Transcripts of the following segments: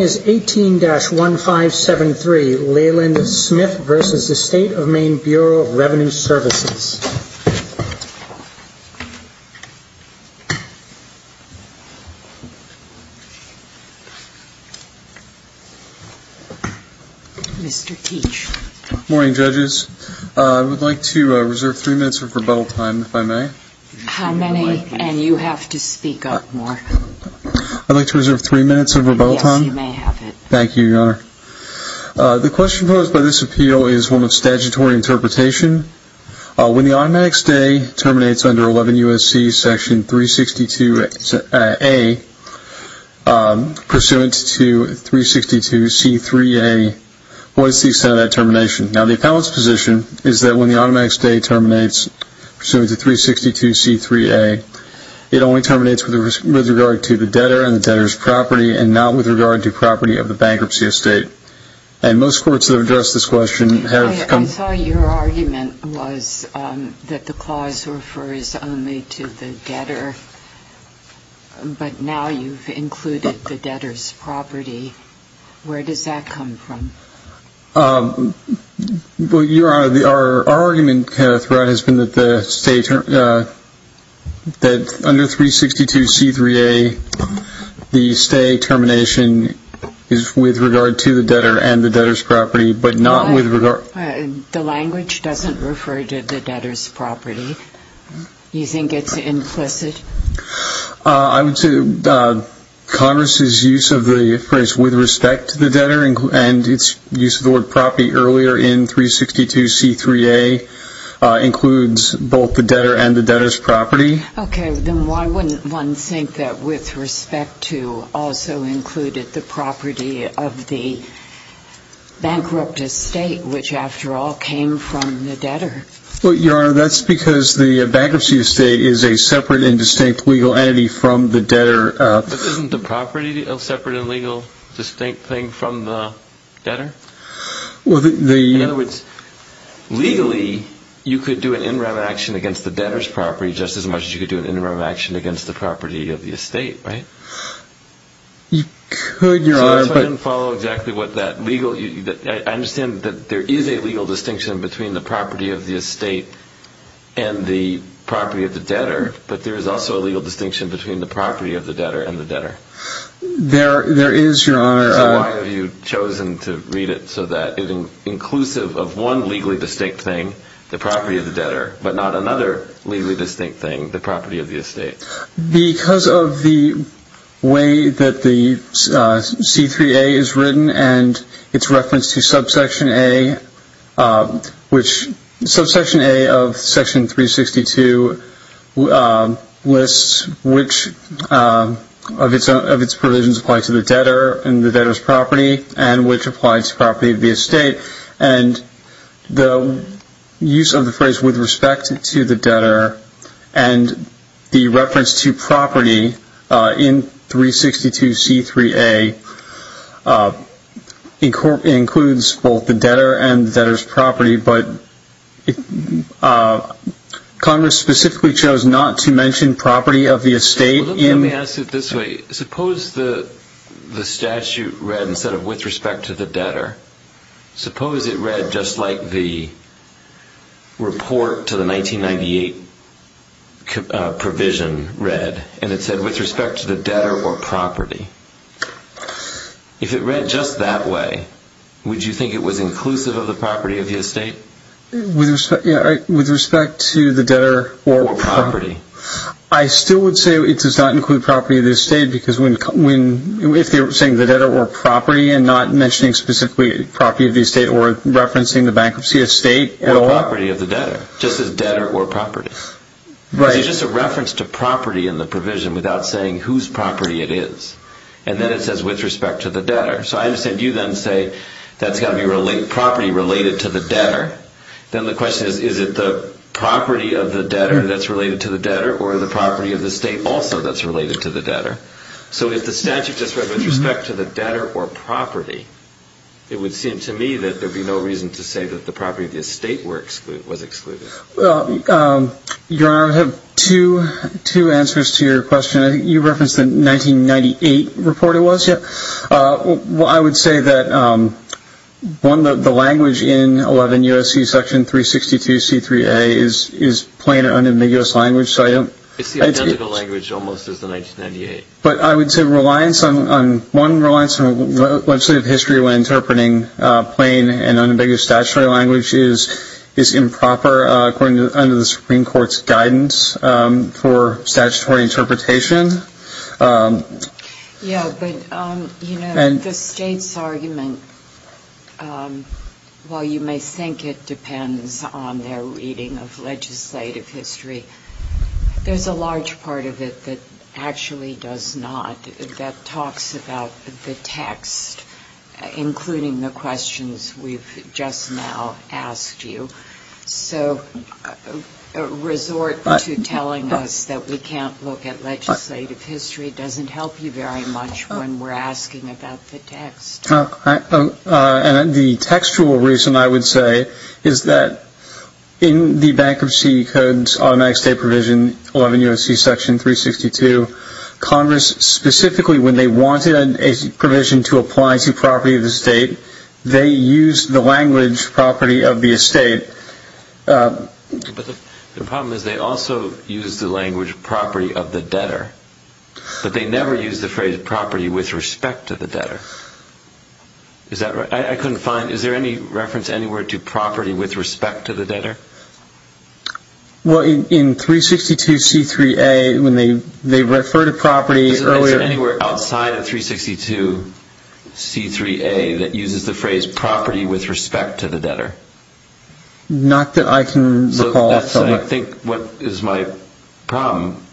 18-1573, Leland Smith v. State of Maine Bureau of Revenue Services. Mr. Teach. Good morning, judges. I would like to reserve three minutes of rebuttal time, if I may. How many? And you have to speak up more. I would like to reserve three minutes of rebuttal time. Yes, you may have it. Thank you, Your Honor. The question posed by this appeal is one of statutory interpretation. When the automatic stay terminates under 11 U.S.C. section 362A, pursuant to 362C3A, what is the extent of that termination? Now, the appellant's position is that when the automatic stay terminates pursuant to 362C3A, it only terminates with regard to the debtor and the debtor's property and not with regard to property of the bankruptcy estate. And most courts that have addressed this question have- I saw your argument was that the clause refers only to the debtor, but now you've included the debtor's property. Where does that come from? Well, Your Honor, our argument throughout has been that under 362C3A, the stay termination is with regard to the debtor and the debtor's property, but not with regard- The language doesn't refer to the debtor's property. Do you think it's implicit? I would say Congress's use of the phrase with respect to the debtor and its use of the word property earlier in 362C3A includes both the debtor and the debtor's property. Okay. Then why wouldn't one think that with respect to also included the property of the bankrupt estate, which after all came from the debtor? Well, Your Honor, that's because the bankruptcy estate is a separate and distinct legal entity from the debtor. But isn't the property a separate and legal distinct thing from the debtor? Well, the- In other words, legally, you could do an interim action against the debtor's property just as much as you could do an interim action against the property of the estate, right? You could, Your Honor, but- That's why I didn't follow exactly what that legal- I understand that there is a legal distinction between the property of the estate and the property of the debtor, but there is also a legal distinction between the property of the debtor and the debtor. There is, Your Honor- So why have you chosen to read it so that it's inclusive of one legally distinct thing, the property of the debtor, but not another legally distinct thing, the property of the estate? Because of the way that the C-3A is written and its reference to subsection A, which- subsection A of section 362 lists which of its provisions apply to the debtor and the debtor's property, and which apply to property of the estate, and the use of the phrase, with respect to the debtor, and the reference to property in 362 C-3A includes both the debtor and the debtor's property, but Congress specifically chose not to mention property of the estate in- With respect to the debtor, suppose it read just like the report to the 1998 provision read, and it said, with respect to the debtor or property. If it read just that way, would you think it was inclusive of the property of the estate? With respect to the debtor- Or property. I still would say it does not include property of the estate because when- if they were saying the debtor or property and not mentioning specifically property of the estate or referencing the bankruptcy of state- Or property of the debtor, just as debtor or property. Right. But it's just a reference to property in the provision without saying whose property it is. And then it says, with respect to the debtor. So I understand you then say that's got to be property related to the debtor. Then the question is, is it the property of the debtor that's related to the debtor or the property of the state also that's related to the debtor? So if the statute just read with respect to the debtor or property, it would seem to me that there'd be no reason to say that the property of the estate was excluded. Your Honor, I have two answers to your question. I think you referenced the 1998 report it was? Yeah. Well, I would say that, one, the language in 11 U.S.C. section 362C3A is plain or unambiguous language, so I don't- It's the identical language almost as the 1998. But I would say reliance on, one, reliance on legislative history when interpreting plain and unambiguous statutory language is improper under the Supreme Court's guidance for statutory interpretation. Yeah, but the state's argument, while you may think it depends on their reading of legislative history, there's a large part of it that actually does not. That talks about the text, including the questions we've just now asked you. So a resort to telling us that we can't look at legislative history doesn't help you very much when we're asking about the text. And the textual reason, I would say, is that in the Bankruptcy Code's automatic estate provision, 11 U.S.C. section 362, Congress specifically, when they wanted a provision to apply to property of the estate, they used the language property of the estate. But the problem is they also use the language property of the debtor, but they never use the phrase property with respect to the debtor. Is that right? I couldn't find- is there any reference anywhere to property with respect to the debtor? Well, in 362C3A, when they refer to property earlier- So that's what I think is my problem.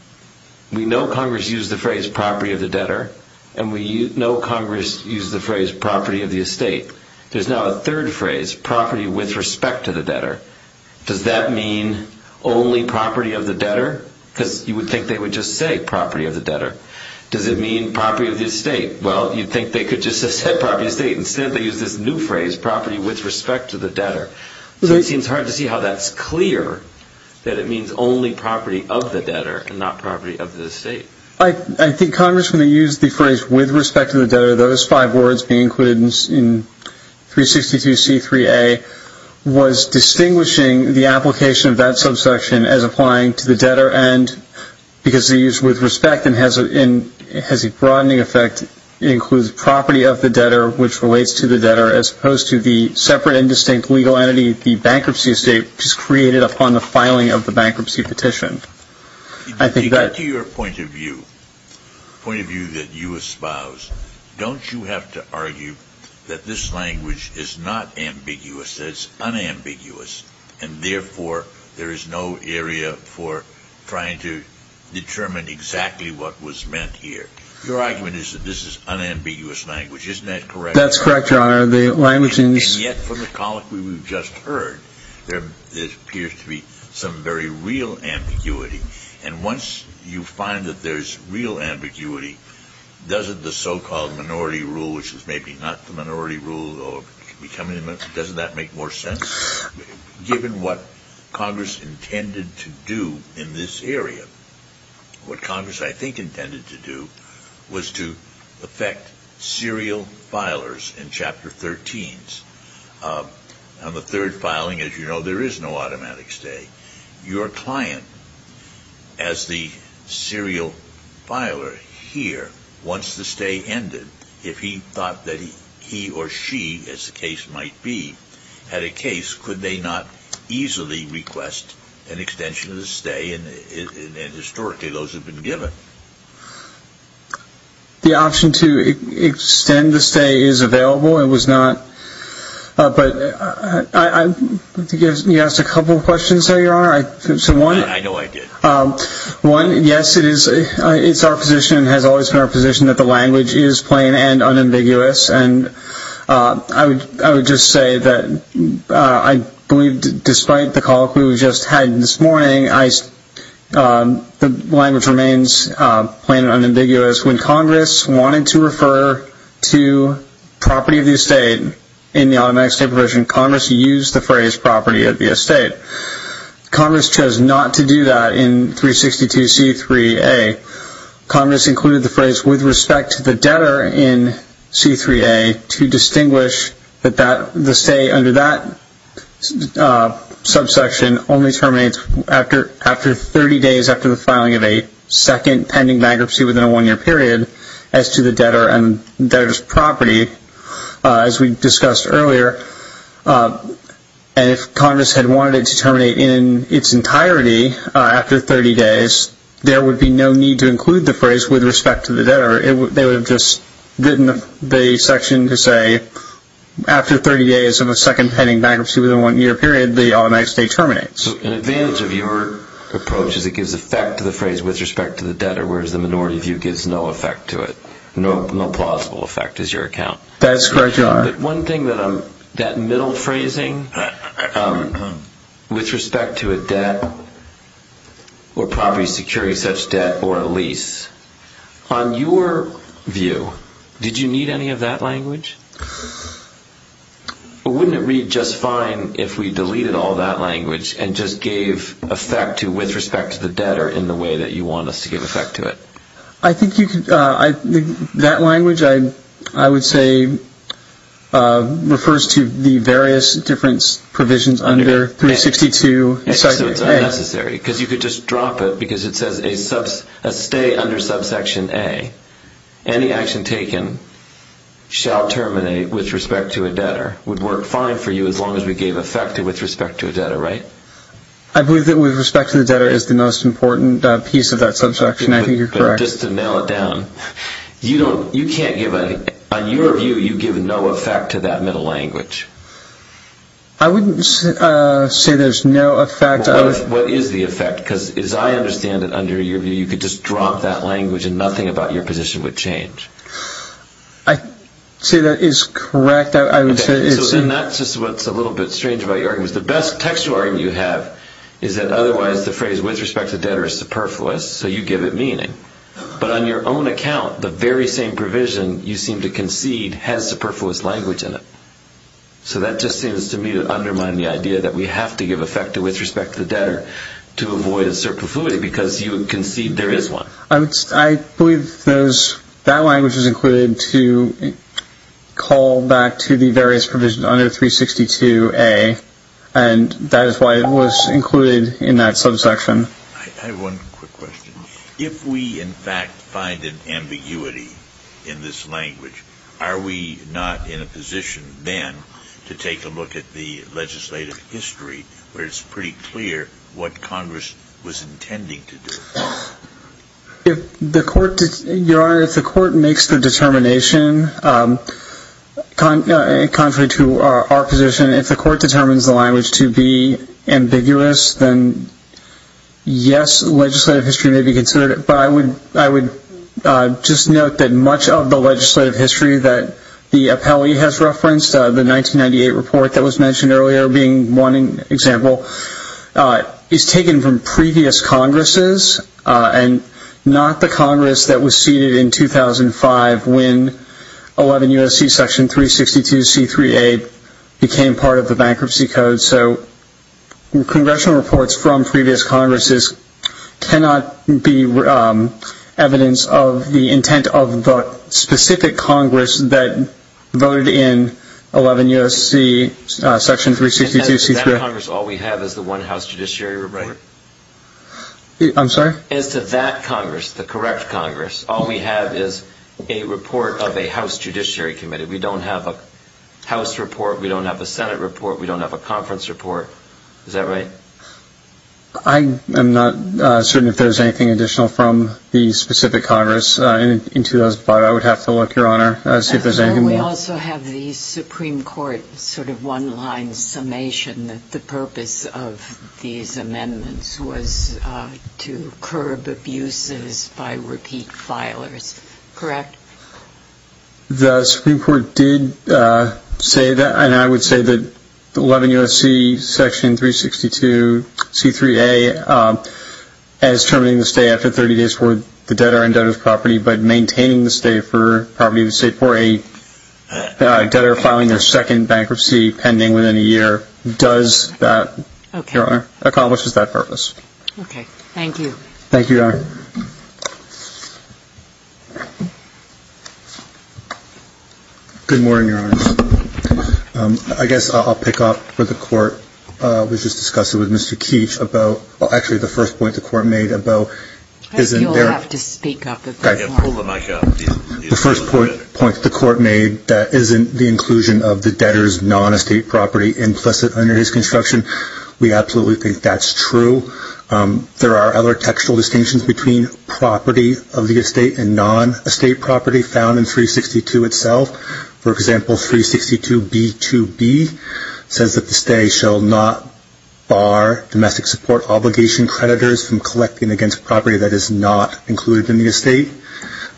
We know Congress used the phrase property of the debtor, and we know Congress used the phrase property of the estate. There's now a third phrase, property with respect to the debtor. Does that mean only property of the debtor? Because you would think they would just say property of the debtor. Does it mean property of the estate? Well, you'd think they could just have said property of the estate. Instead, they used this new phrase, property with respect to the debtor. So it seems hard to see how that's clear that it means only property of the debtor and not property of the estate. I think Congress, when they used the phrase with respect to the debtor, those five words being included in 362C3A, was distinguishing the application of that subsection as applying to the debtor. And because they used with respect, it has a broadening effect. It includes property of the debtor, which relates to the debtor, as opposed to the separate and distinct legal entity, the bankruptcy estate, which is created upon the filing of the bankruptcy petition. To your point of view, point of view that you espouse, don't you have to argue that this language is not ambiguous, that it's unambiguous, and therefore there is no area for trying to determine exactly what was meant here? Your argument is that this is unambiguous language, isn't that correct? That's correct, Your Honor. The language in this... On the third filing, as you know, there is no automatic stay. Your client, as the serial filer here, wants the stay ended. If he thought that he or she, as the case might be, had a case, could they not easily request an extension of the stay, and historically those have been given. The option to extend the stay is available, it was not, but you asked a couple of questions there, Your Honor. I know I did. One, yes, it's our position, it has always been our position that the language is plain and unambiguous, and I would just say that I believe, despite the call we just had this morning, the language remains plain and unambiguous. When Congress wanted to refer to property of the estate in the automatic stay provision, Congress used the phrase property of the estate. Congress chose not to do that in 362C3A. Congress included the phrase with respect to the debtor in C3A to distinguish that the stay under that subsection only terminates after 30 days after the filing of a second pending bankruptcy within a one-year period as to the debtor and debtor's property, as we discussed earlier. And if Congress had wanted it to terminate in its entirety after 30 days, there would be no need to include the phrase with respect to the debtor. They would have just written the section to say, after 30 days of a second pending bankruptcy within a one-year period, the automatic stay terminates. So an advantage of your approach is it gives effect to the phrase with respect to the debtor, whereas the minority view gives no effect to it. No plausible effect is your account. That middle phrasing, with respect to a debt or property security such debt or a lease, on your view, did you need any of that language? Or wouldn't it read just fine if we deleted all that language and just gave effect to with respect to the debtor in the way that you want us to give effect to it? I think that language, I would say, refers to the various different provisions under 362 section A. So it's unnecessary because you could just drop it because it says a stay under subsection A, any action taken shall terminate with respect to a debtor, would work fine for you as long as we gave effect to with respect to a debtor, right? I believe that with respect to the debtor is the most important piece of that subsection. I think you're correct. But just to nail it down, on your view, you give no effect to that middle language. I wouldn't say there's no effect. What is the effect? Because as I understand it, under your view, you could just drop that language and nothing about your position would change. I'd say that is correct. And that's just what's a little bit strange about your argument. The best textual argument you have is that otherwise the phrase with respect to the debtor is superfluous, so you give it meaning. But on your own account, the very same provision you seem to concede has superfluous language in it. So that just seems to me to undermine the idea that we have to give effect to with respect to the debtor to avoid a superfluity because you concede there is one. I believe that language is included to call back to the various provisions under 362A, and that is why it was included in that subsection. I have one quick question. If we, in fact, find an ambiguity in this language, are we not in a position then to take a look at the legislative history where it's pretty clear what Congress was intending to do? Your Honor, if the court makes the determination, contrary to our position, if the court determines the language to be ambiguous, then yes, legislative history may be considered. But I would just note that much of the legislative history that the appellee has referenced, the 1998 report that was mentioned earlier being one example, is taken from previous Congresses and not the Congress that was seated in 2005 when 11 U.S.C. section 362C3A became part of the bankruptcy code. So congressional reports from previous Congresses cannot be evidence of the intent of the specific Congress that voted in 11 U.S.C. section 362C3A. As to that Congress, the correct Congress, all we have is a report of a House Judiciary Committee. We don't have a House report. We don't have a Senate report. We don't have a conference report. Is that right? I am not certain if there's anything additional from the specific Congress in 2005. I would have to look, Your Honor, and see if there's anything more. We also have the Supreme Court sort of one-line summation that the purpose of these amendments was to curb abuses by repeat filers. Correct? The Supreme Court did say that, and I would say that 11 U.S.C. section 362C3A as terminating the stay after 30 days for the debtor and debtor's property, but maintaining the stay for property of the state for a debtor filing their second bankruptcy pending within a year does that, Your Honor, accomplishes that purpose. Okay. Thank you. Thank you, Your Honor. Good morning, Your Honor. I guess I'll pick up where the Court was just discussing with Mr. Keech about, well, actually the first point the Court made about I think you'll have to speak up at this point. The first point the Court made, that isn't the inclusion of the debtor's non-estate property implicit under his construction. We absolutely think that's true. There are other textual distinctions between property of the estate and non-estate property found in 362 itself. For example, 362B2B says that the stay shall not bar domestic support obligation creditors from collecting against property that is not included in the estate.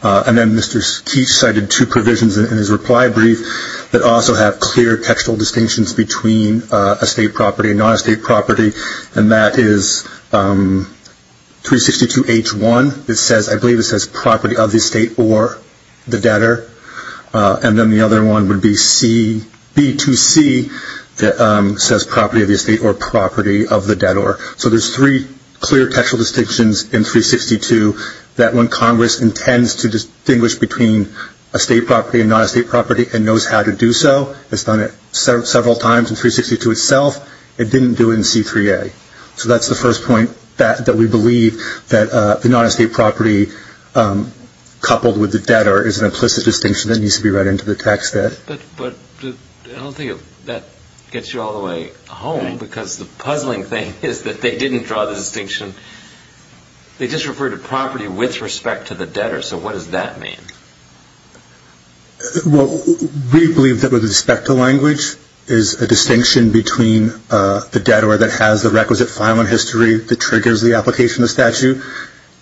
And then Mr. Keech cited two provisions in his reply brief that also have clear textual distinctions between estate property and non-estate property, and that is 362H1. I believe it says property of the estate or the debtor. And then the other one would be B2C that says property of the estate or property of the debtor. So there's three clear textual distinctions in 362 that when Congress intends to distinguish between estate property and non-estate property and knows how to do so, has done it several times in 362 itself, it didn't do it in C3A. So that's the first point that we believe that the non-estate property coupled with the debtor is an implicit distinction that needs to be read into the text. But I don't think that gets you all the way home because the puzzling thing is that they didn't draw the distinction. They just referred to property with respect to the debtor. So what does that mean? Well, we believe that with respect to language is a distinction between the debtor that has the requisite filing history that triggers the application of the statute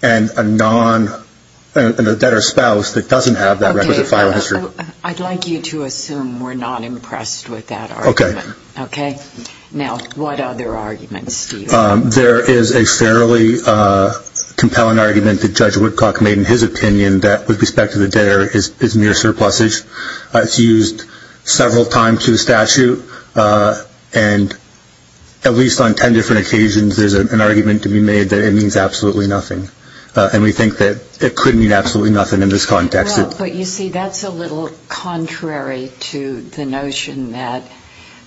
and a debtor spouse that doesn't have that requisite filing history. Okay. I'd like you to assume we're not impressed with that argument. Okay. Now, what other arguments do you have? There is a fairly compelling argument that Judge Woodcock made in his opinion that with respect to the debtor is mere surplusage. It's used several times to the statute and at least on 10 different occasions there's an argument to be made that it means absolutely nothing. And we think that it could mean absolutely nothing in this context. But you see, that's a little contrary to the notion that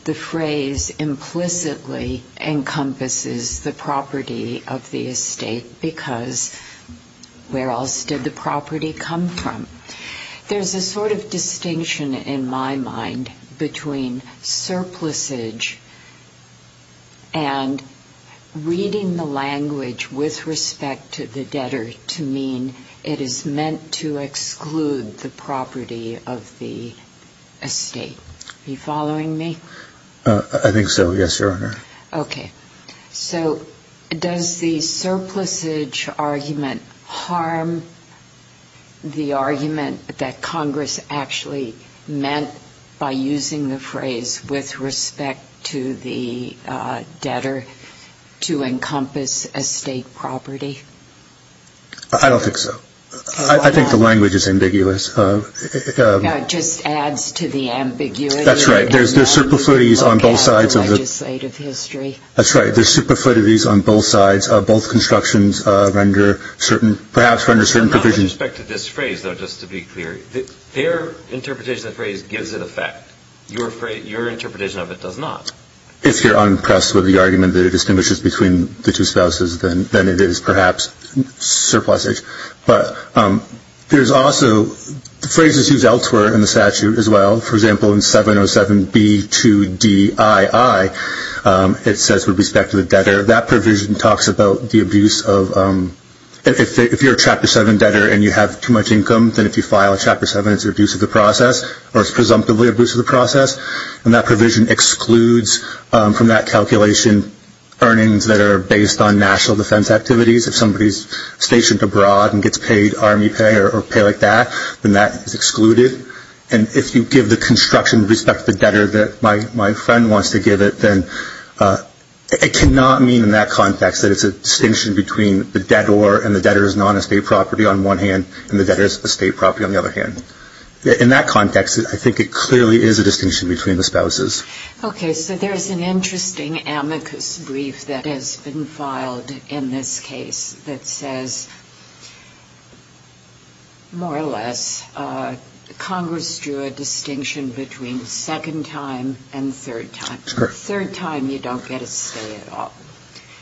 the phrase implicitly encompasses the property of the estate because where else did the property come from? There's a sort of distinction in my mind between surplusage and reading the language with respect to the debtor to mean it is meant to exclude the property of the estate. Are you following me? I think so, yes, Your Honor. Okay. So does the surplusage argument harm the argument that Congress actually meant by using the phrase with respect to the debtor to encompass estate property? I don't think so. I think the language is ambiguous. It just adds to the ambiguity. That's right. There's superfluidities on both sides. That's right. There's superfluidities on both sides. Both constructions perhaps render certain provisions. Not with respect to this phrase, though, just to be clear. Their interpretation of the phrase gives it effect. Your interpretation of it does not. If you're unimpressed with the argument that it distinguishes between the two spouses, then it is perhaps surplusage. But there's also phrases used elsewhere in the statute as well. For example, in 707B2DII, it says with respect to the debtor, that provision talks about the abuse of, if you're a Chapter 7 debtor and you have too much income, then if you file a Chapter 7, it's an abuse of the process, or it's presumptively an abuse of the process. And that provision excludes from that calculation earnings that are based on national defense activities. If somebody's stationed abroad and gets paid Army pay or pay like that, then that is excluded. And if you give the construction with respect to the debtor that my friend wants to give it, then it cannot mean in that context that it's a distinction between the debtor and the debtor's non-estate property on one hand and the debtor's estate property on the other hand. In that context, I think it clearly is a distinction between the spouses. Okay. So there's an interesting amicus brief that has been filed in this case that says, more or less, Congress drew a distinction between second time and third time. Third time, you don't get a stay at all.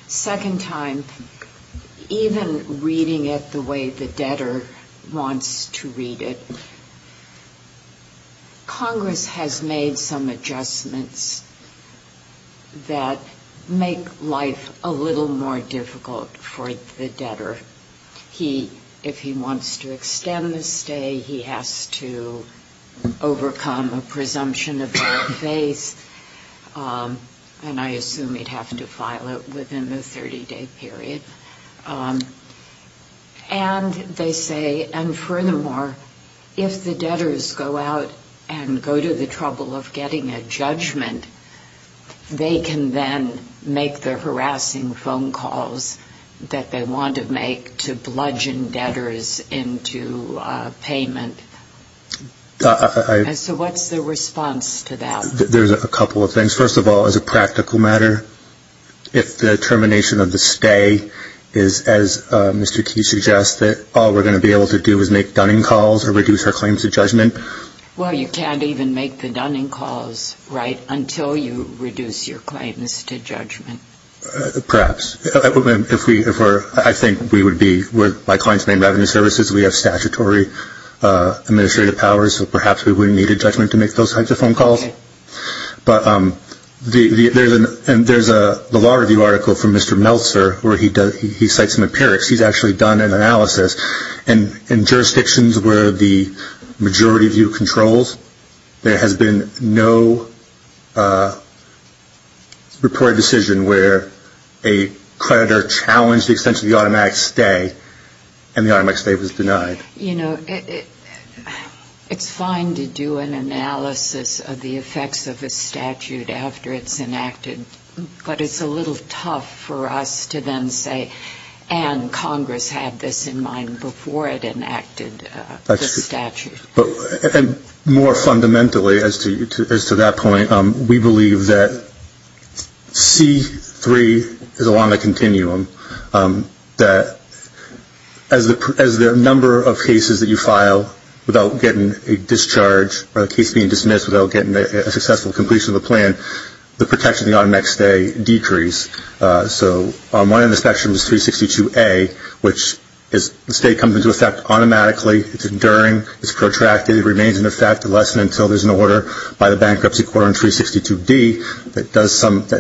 Second time, even reading it the way the debtor wants to read it, Congress has made some adjustments that make life a little more difficult for the debtor. He, if he wants to extend the stay, he has to overcome a presumption of your face, and I assume he'd have to file it within the 30-day period. And they say, and furthermore, if the debtors go out and go to the trouble of getting a judgment, they can then make the harassing phone calls that they want to make to bludgeon debtors into payment. So what's the response to that? A couple of things. First of all, as a practical matter, if the termination of the stay is, as Mr. Key suggests, that all we're going to be able to do is make dunning calls or reduce our claims to judgment. Well, you can't even make the dunning calls, right, until you reduce your claims to judgment. Perhaps. If we were, I think we would be, we're my client's main revenue services, we have statutory administrative powers, so perhaps we wouldn't need a judgment to make those types of phone calls. But there's a Law Review article from Mr. Meltzer where he cites McParrick's. He's actually done an analysis, and in jurisdictions where the majority view controls, there has been no reported decision where a creditor challenged the extension of the automatic stay, and the automatic stay was denied. You know, it's fine to do an analysis of the effects of a statute after it's enacted, but it's a little tough for us to then say, and Congress had this in mind before it enacted the statute. And more fundamentally, as to that point, we believe that C-3 is along the continuum, that as the number of cases that you file without getting a discharge, or a case being dismissed without getting a successful completion of the plan, the protection of the automatic stay decrease. So on one end of the spectrum is 362A, which the stay comes into effect automatically, it's enduring, it's protracted, it remains in effect unless and until there's an order by the Bankruptcy Court on 362D that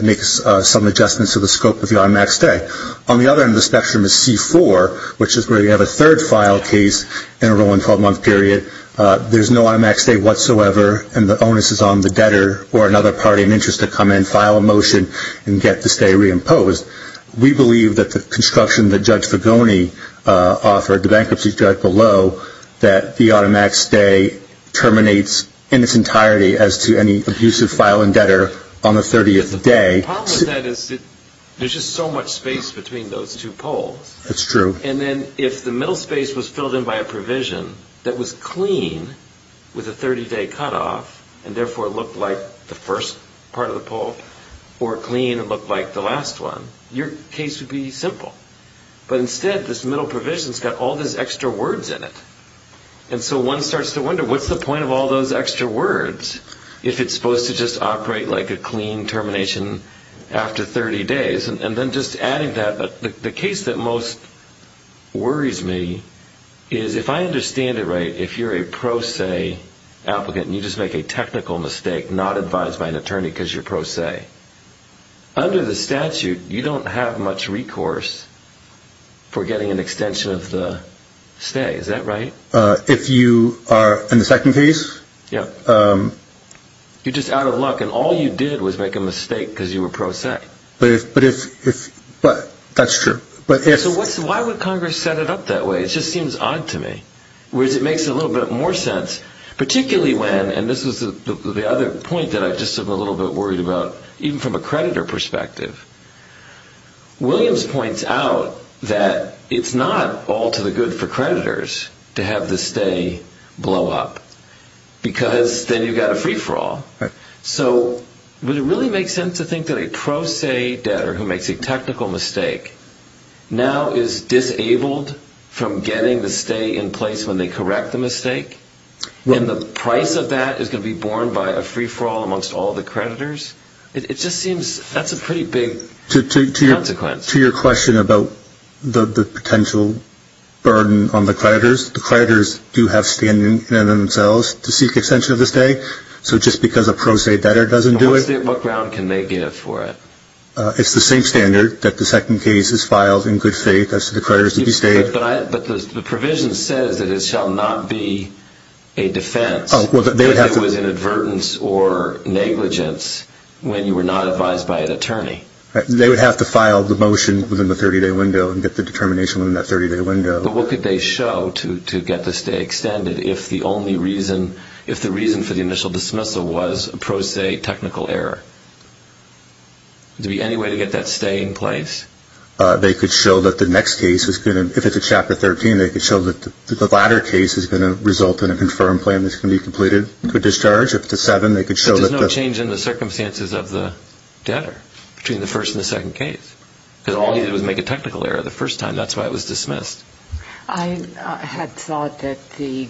makes some adjustments to the scope of the automatic stay. On the other end of the spectrum is C-4, which is where you have a third file case in a rolling 12-month period. There's no automatic stay whatsoever, and the onus is on the debtor or another party in interest to come in, file a motion, and get the stay reimposed. We believe that the construction that Judge Fagoni offered, the bankruptcy judge below, that the automatic stay terminates in its entirety as to any abusive file and debtor on the 30th day. The problem with that is that there's just so much space between those two poles. That's true. And then if the middle space was filled in by a provision that was clean with a 30-day cutoff, and therefore looked like the first part of the pole, or clean and looked like the last one, your case would be simple. But instead, this middle provision's got all these extra words in it. And so one starts to wonder, what's the point of all those extra words if it's supposed to just operate like a clean termination after 30 days? And then just adding that, the case that most worries me is, if I understand it right, if you're a pro se applicant and you just make a technical mistake, not advised by an attorney because you're pro se, under the statute, you don't have much recourse for getting an extension of the stay. Is that right? If you are in the second case? Yeah. You're just out of luck, and all you did was make a mistake because you were pro se. But if, that's true. So why would Congress set it up that way? It just seems odd to me. Whereas it makes a little bit more sense, particularly when, and this is the other point that I'm just a little bit worried about, even from a creditor perspective, Williams points out that it's not all to the good for creditors to have the stay blow up, because then you've got a free-for-all. So would it really make sense to think that a pro se debtor who makes a technical mistake now is disabled from getting the stay in place when they correct the mistake? And the price of that is going to be borne by a free-for-all amongst all the creditors? It just seems, that's a pretty big consequence. To your question about the potential burden on the creditors, the creditors do have standing in and of themselves to seek extension of the stay. So just because a pro se debtor doesn't do it. What ground can they give for it? It's the same standard that the second case is filed in good faith as to the creditors to be stayed. But the provision says that it shall not be a defense. If there was inadvertence or negligence when you were not advised by an attorney. They would have to file the motion within the 30-day window and get the determination within that 30-day window. But what could they show to get the stay extended if the reason for the initial dismissal was a pro se technical error? Is there any way to get that stay in place? They could show that the next case, if it's a Chapter 13, they could show that the latter case is going to result in a confirmed plan that's going to be completed for discharge. If it's a 7, they could show that the... But there's no change in the circumstances of the debtor between the first and the second case. Because all he did was make a technical error the first time. That's why it was dismissed. I had thought that the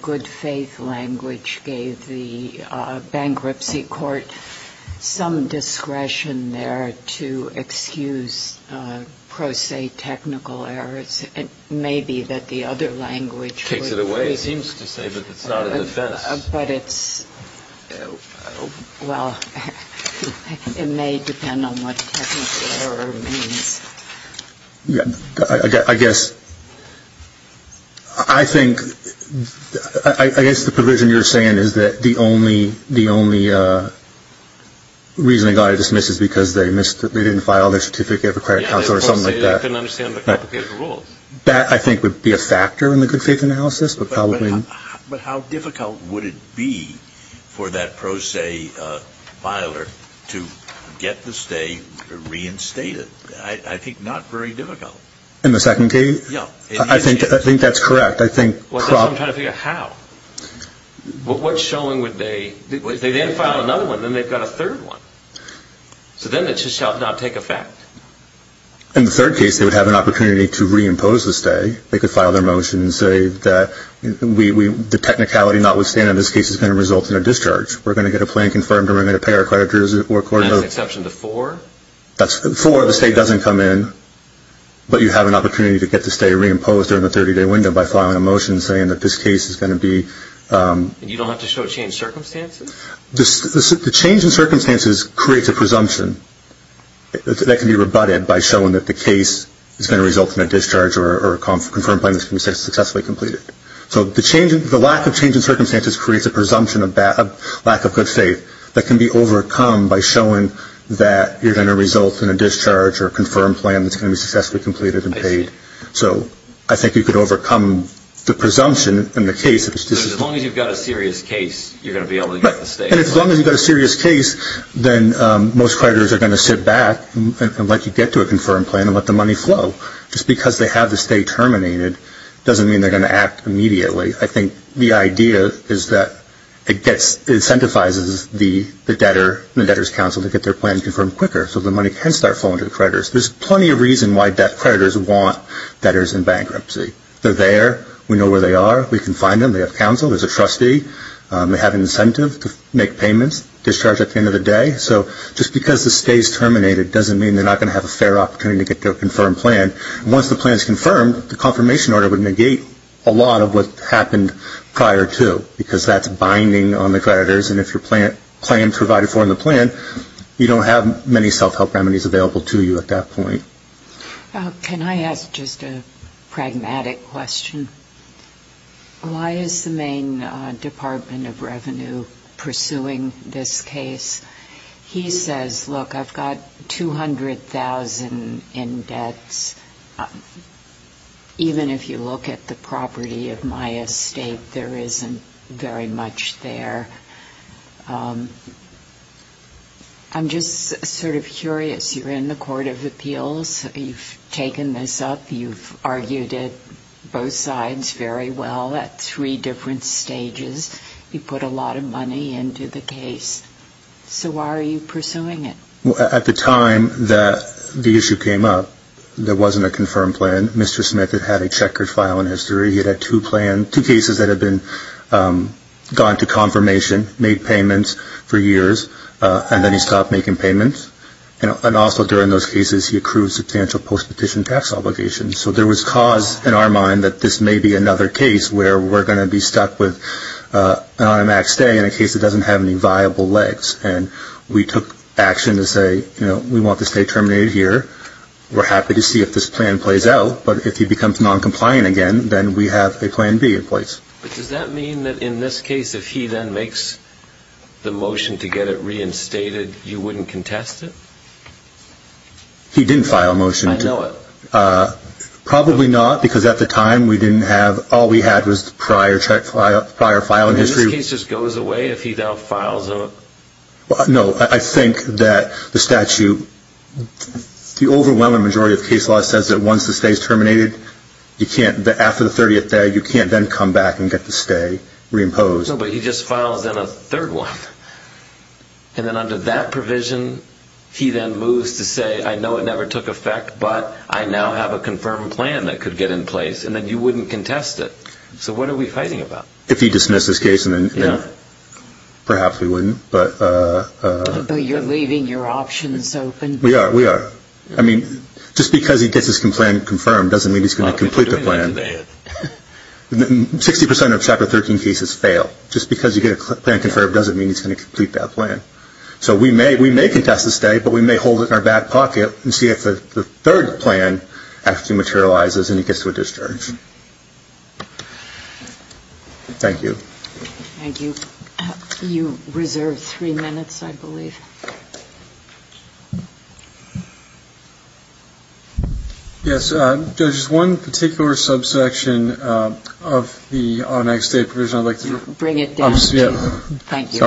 good faith language gave the bankruptcy court some discretion there to excuse pro se technical errors. It may be that the other language... Takes it away, it seems to say. But it's not a defense. But it's... Well, it may depend on what technical error means. I guess... I think... I guess the provision you're saying is that the only... the only reason they got it dismissed is because they missed... they didn't file their certificate of accredited counsel or something like that. They didn't understand the complicated rules. That, I think, would be a factor in the good faith analysis. But how difficult would it be for that pro se filer to get the stay reinstated? I think not very difficult. In the second case? I think that's correct. I'm trying to figure out how. What's showing would they... They then file another one, then they've got a third one. So then it just shall not take effect. In the third case, they would have an opportunity to reimpose the stay. They could file their motion and say that we... the technicality notwithstanding, this case is going to result in a discharge. We're going to get a plan confirmed and we're going to pay our creditors or court... That's an exception to four? That's four. The stay doesn't come in. But you have an opportunity to get the stay reimposed during the 30-day window by filing a motion saying that this case is going to be... And you don't have to show changed circumstances? The change in circumstances creates a presumption. That can be rebutted by showing that the case is going to result in a discharge or a confirmed plan that's going to be successfully completed. So the lack of change in circumstances creates a presumption of lack of good faith that can be overcome by showing that you're going to result in a discharge or a confirmed plan that's going to be successfully completed and paid. So I think you could overcome the presumption and the case... As long as you've got a serious case, you're going to be able to get the stay. And as long as you've got a serious case, then most creditors are going to sit back and let you get to a confirmed plan and let the money flow. Just because they have the stay terminated doesn't mean they're going to act immediately. I think the idea is that it gets... It incentivizes the debtor and the debtor's counsel to get their plan confirmed quicker so the money can start flowing to the creditors. There's plenty of reason why creditors want debtors in bankruptcy. They're there. We know where they are. We can find them. They have counsel. There's a trustee. They have an incentive to make payments, discharge at the end of the day. So just because the stay is terminated doesn't mean they're not going to have a fair opportunity to get to a confirmed plan. Once the plan is confirmed, the confirmation order would negate a lot of what happened prior to because that's binding on the creditors. And if your plan is provided for in the plan, you don't have many self-help remedies available to you at that point. Can I ask just a pragmatic question? Why is the Maine Department of Revenue pursuing this case? He says, look, I've got $200,000 in debts. Even if you look at the property of my estate, there isn't very much there. I'm just sort of curious. You're in the Court of Appeals. You've taken this up. You've argued it both sides very well at three different stages. You put a lot of money into the case. So why are you pursuing it? At the time that the issue came up, there wasn't a confirmed plan. Mr. Smith had had a checkered file in history. He had had two plans, two cases that had gone to confirmation, made payments for years, and then he stopped making payments. And also during those cases, he accrued substantial post-petition tax obligations. So there was cause in our mind that this may be another case where we're going to be stuck with an automatic stay in a case that doesn't have any viable legs. And we took action to say, you know, we want the estate terminated here. We're happy to see if this plan plays out. But if he becomes noncompliant again, then we have a Plan B in place. But does that mean that in this case, if he then makes the motion to get it reinstated, you wouldn't contest it? He didn't file a motion. I know it. Probably not, because at the time, all we had was the prior file in history. And this case just goes away if he now files a... No, I think that the statute, the overwhelming majority of case law says that once the stay is terminated, after the 30th day, you can't then come back and get the stay reimposed. No, but he just files in a third one. And then under that provision, he then moves to say, I know it never took effect, but I now have a confirmed plan that could get in place. And then you wouldn't contest it. So what are we fighting about? If he dismissed his case, then perhaps we wouldn't. But you're leaving your options open. We are. We are. I mean, just because he gets his plan confirmed doesn't mean he's going to complete the plan. 60% of Chapter 13 cases fail. Just because you get a plan confirmed doesn't mean he's going to complete that plan. So we may contest the stay, but we may hold it in our back pocket and see if the third plan actually materializes and he gets to a discharge. Thank you. Thank you. You reserve three minutes, I believe. Yes, Judge, there's one particular subsection of the automatic stay provision. Bring it down. Thank you.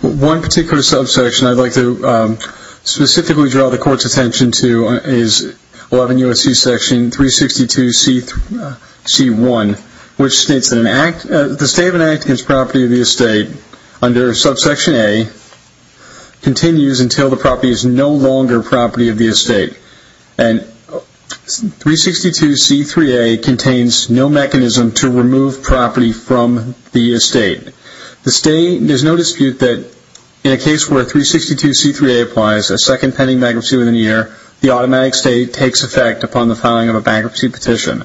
One particular subsection. I'd like to specifically draw the Court's attention to is 11 U.S.C. section 362C1, which states that the stay of an act against property of the estate under subsection A continues until the property is no longer property of the estate. And 362C3A contains no mechanism to remove property from the estate. The stay, there's no dispute that in a case where 362C3A applies, a second pending bankruptcy within a year, the automatic stay takes effect upon the filing of a bankruptcy petition.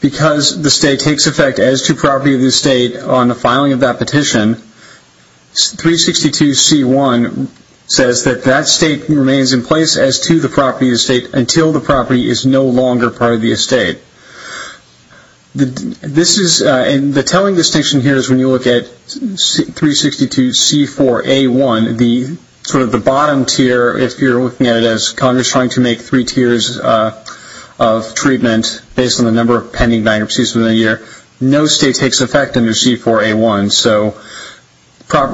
Because the stay takes effect as to property of the estate on the filing of that petition, 362C1 says that that stay remains in place as to the property of the estate until the property is no longer part of the estate. The telling distinction here is when you look at 362C4A1, the sort of the bottom tier, if you're looking at it as Congress trying to make three tiers of treatment based on the number of pending bankruptcies within a year, no stay takes effect under C4A1. So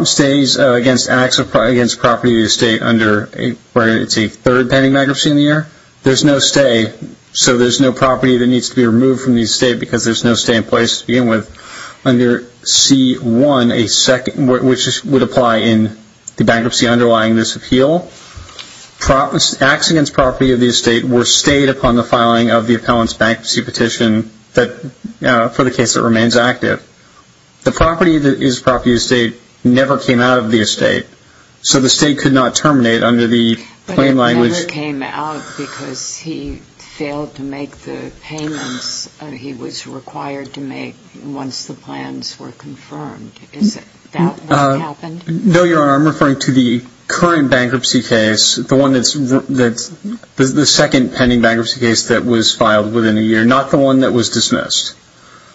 stays against acts of property of the estate under where it's a third pending bankruptcy in the year, there's no stay, so there's no property that needs to be removed from the estate because there's no stay in place to begin with. Under C1, which would apply in the bankruptcy underlying this appeal, acts against property of the estate were stayed upon the filing of the appellant's bankruptcy petition for the case that remains active. The property that is property of the estate never came out of the estate, so the estate could not terminate under the plain language. The property that never came out because he failed to make the payments he was required to make once the plans were confirmed. Is that what happened? No, Your Honor. I'm referring to the current bankruptcy case, the one that's the second pending bankruptcy case that was filed within a year, not the one that was dismissed.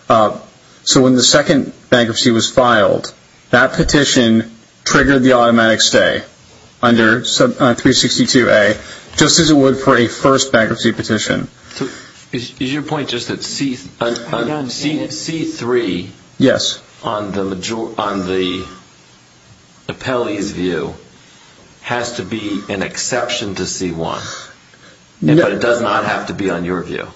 So when the second bankruptcy was filed, that petition triggered the automatic stay under 362A, just as it would for a first bankruptcy petition. Is your point just that C3 on the appellee's view has to be an exception to C1, but it does not have to be on your view?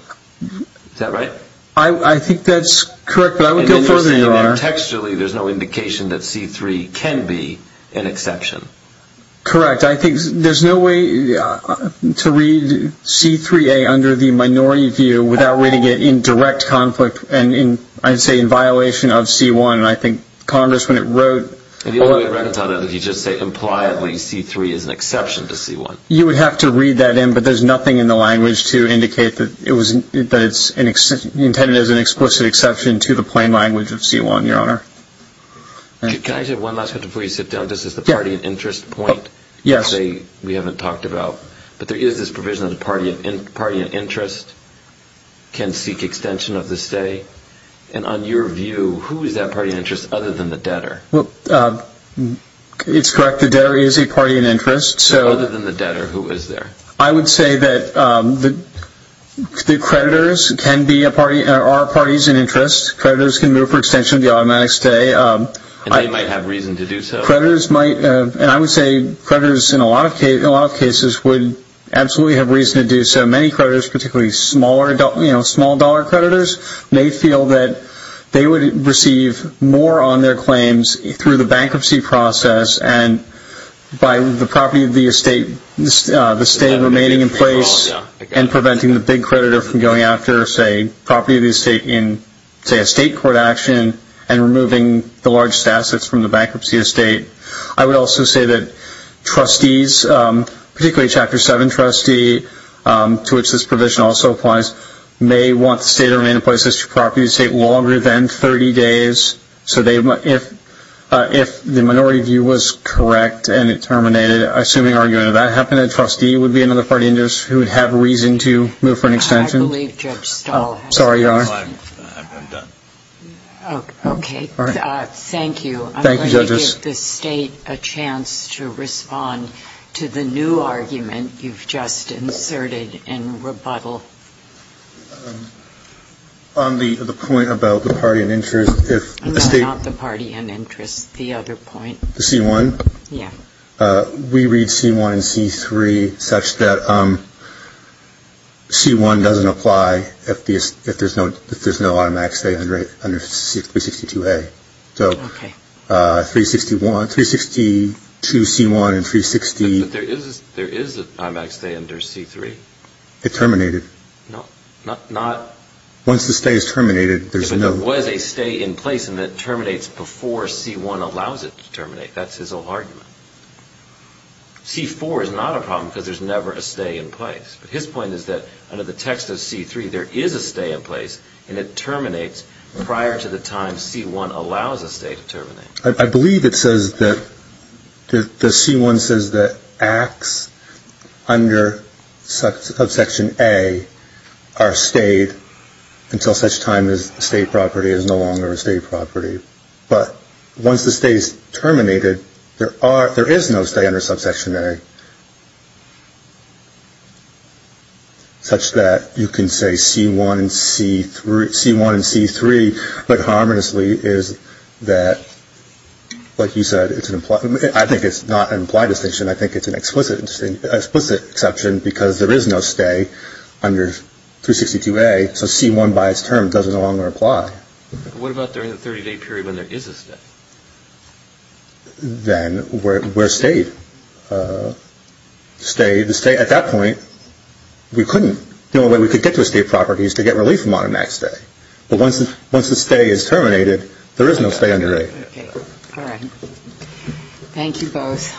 Is that right? I think that's correct, but I would go further, Your Honor. Textually, there's no indication that C3 can be an exception. Correct. I think there's no way to read C3A under the minority view without reading it in direct conflict and I'd say in violation of C1, and I think Congress, when it wrote... The only way it records on it is if you just say impliedly C3 is an exception to C1. You would have to read that in, but there's nothing in the language to indicate that it's intended as an explicit exception to the plain language of C1, Your Honor. Can I say one last thing before you sit down? This is the party and interest point that we haven't talked about, but there is this provision that the party and interest can seek extension of the stay, and on your view, who is that party and interest other than the debtor? It's correct. The debtor is a party and interest. Other than the debtor, who is there? I would say that the creditors are parties and interest. Creditors can move for extension of the automatic stay. They might have reason to do so. Creditors might, and I would say creditors in a lot of cases would absolutely have reason to do so. Many creditors, particularly small dollar creditors, may feel that they would receive more on their claims through the bankruptcy process and by the property of the estate, the stay remaining in place and preventing the big creditor from going after, say, property of the estate in, say, a state court action and removing the largest assets from the bankruptcy estate. I would also say that trustees, particularly a Chapter 7 trustee to which this provision also applies, may want the stay to remain in place of the property of the estate longer than 30 days. If the minority view was correct and it terminated, assuming argument of that happened, a trustee would be another party and interest who would have reason to move for an extension. I believe Judge Stahl has something to say. Sorry, Your Honor. I'm done. Okay. Thank you. I'm going to give the State a chance to respond to the new argument you've just inserted in rebuttal. On the point about the party and interest, if the State... No, not the party and interest. The other point. The C-1? Yeah. We read C-1 and C-3 such that C-1 doesn't apply if there's no automatic stay under C-362A. Okay. So 361, 362C-1 and 360... But there is an automatic stay under C-3. It terminated. Not... Once the stay is terminated, there's no... But there was a stay in place and it terminates before C-1 allows it to terminate. That's his whole argument. C-4 is not a problem because there's never a stay in place. But his point is that there is a stay in place and it terminates prior to the time C-1 allows a stay to terminate. I believe it says that... The C-1 says that acts under subsection A are stayed until such time as State property is no longer a State property. But once the stay is terminated, there is no stay under subsection A such that you can say C-1 and C-3... C-1 and C-3, but harmoniously, is that, like you said, I think it's not an implied distinction. I think it's an explicit exception because there is no stay under 362A. So C-1, by its term, doesn't no longer apply. What about during the 30-day period when there is a stay? Then we're stayed. Stayed. At that point, we couldn't... The only way we could get to a State property is to get relief from automatic stay. But once the stay is terminated, there is no stay under A. Thank you both.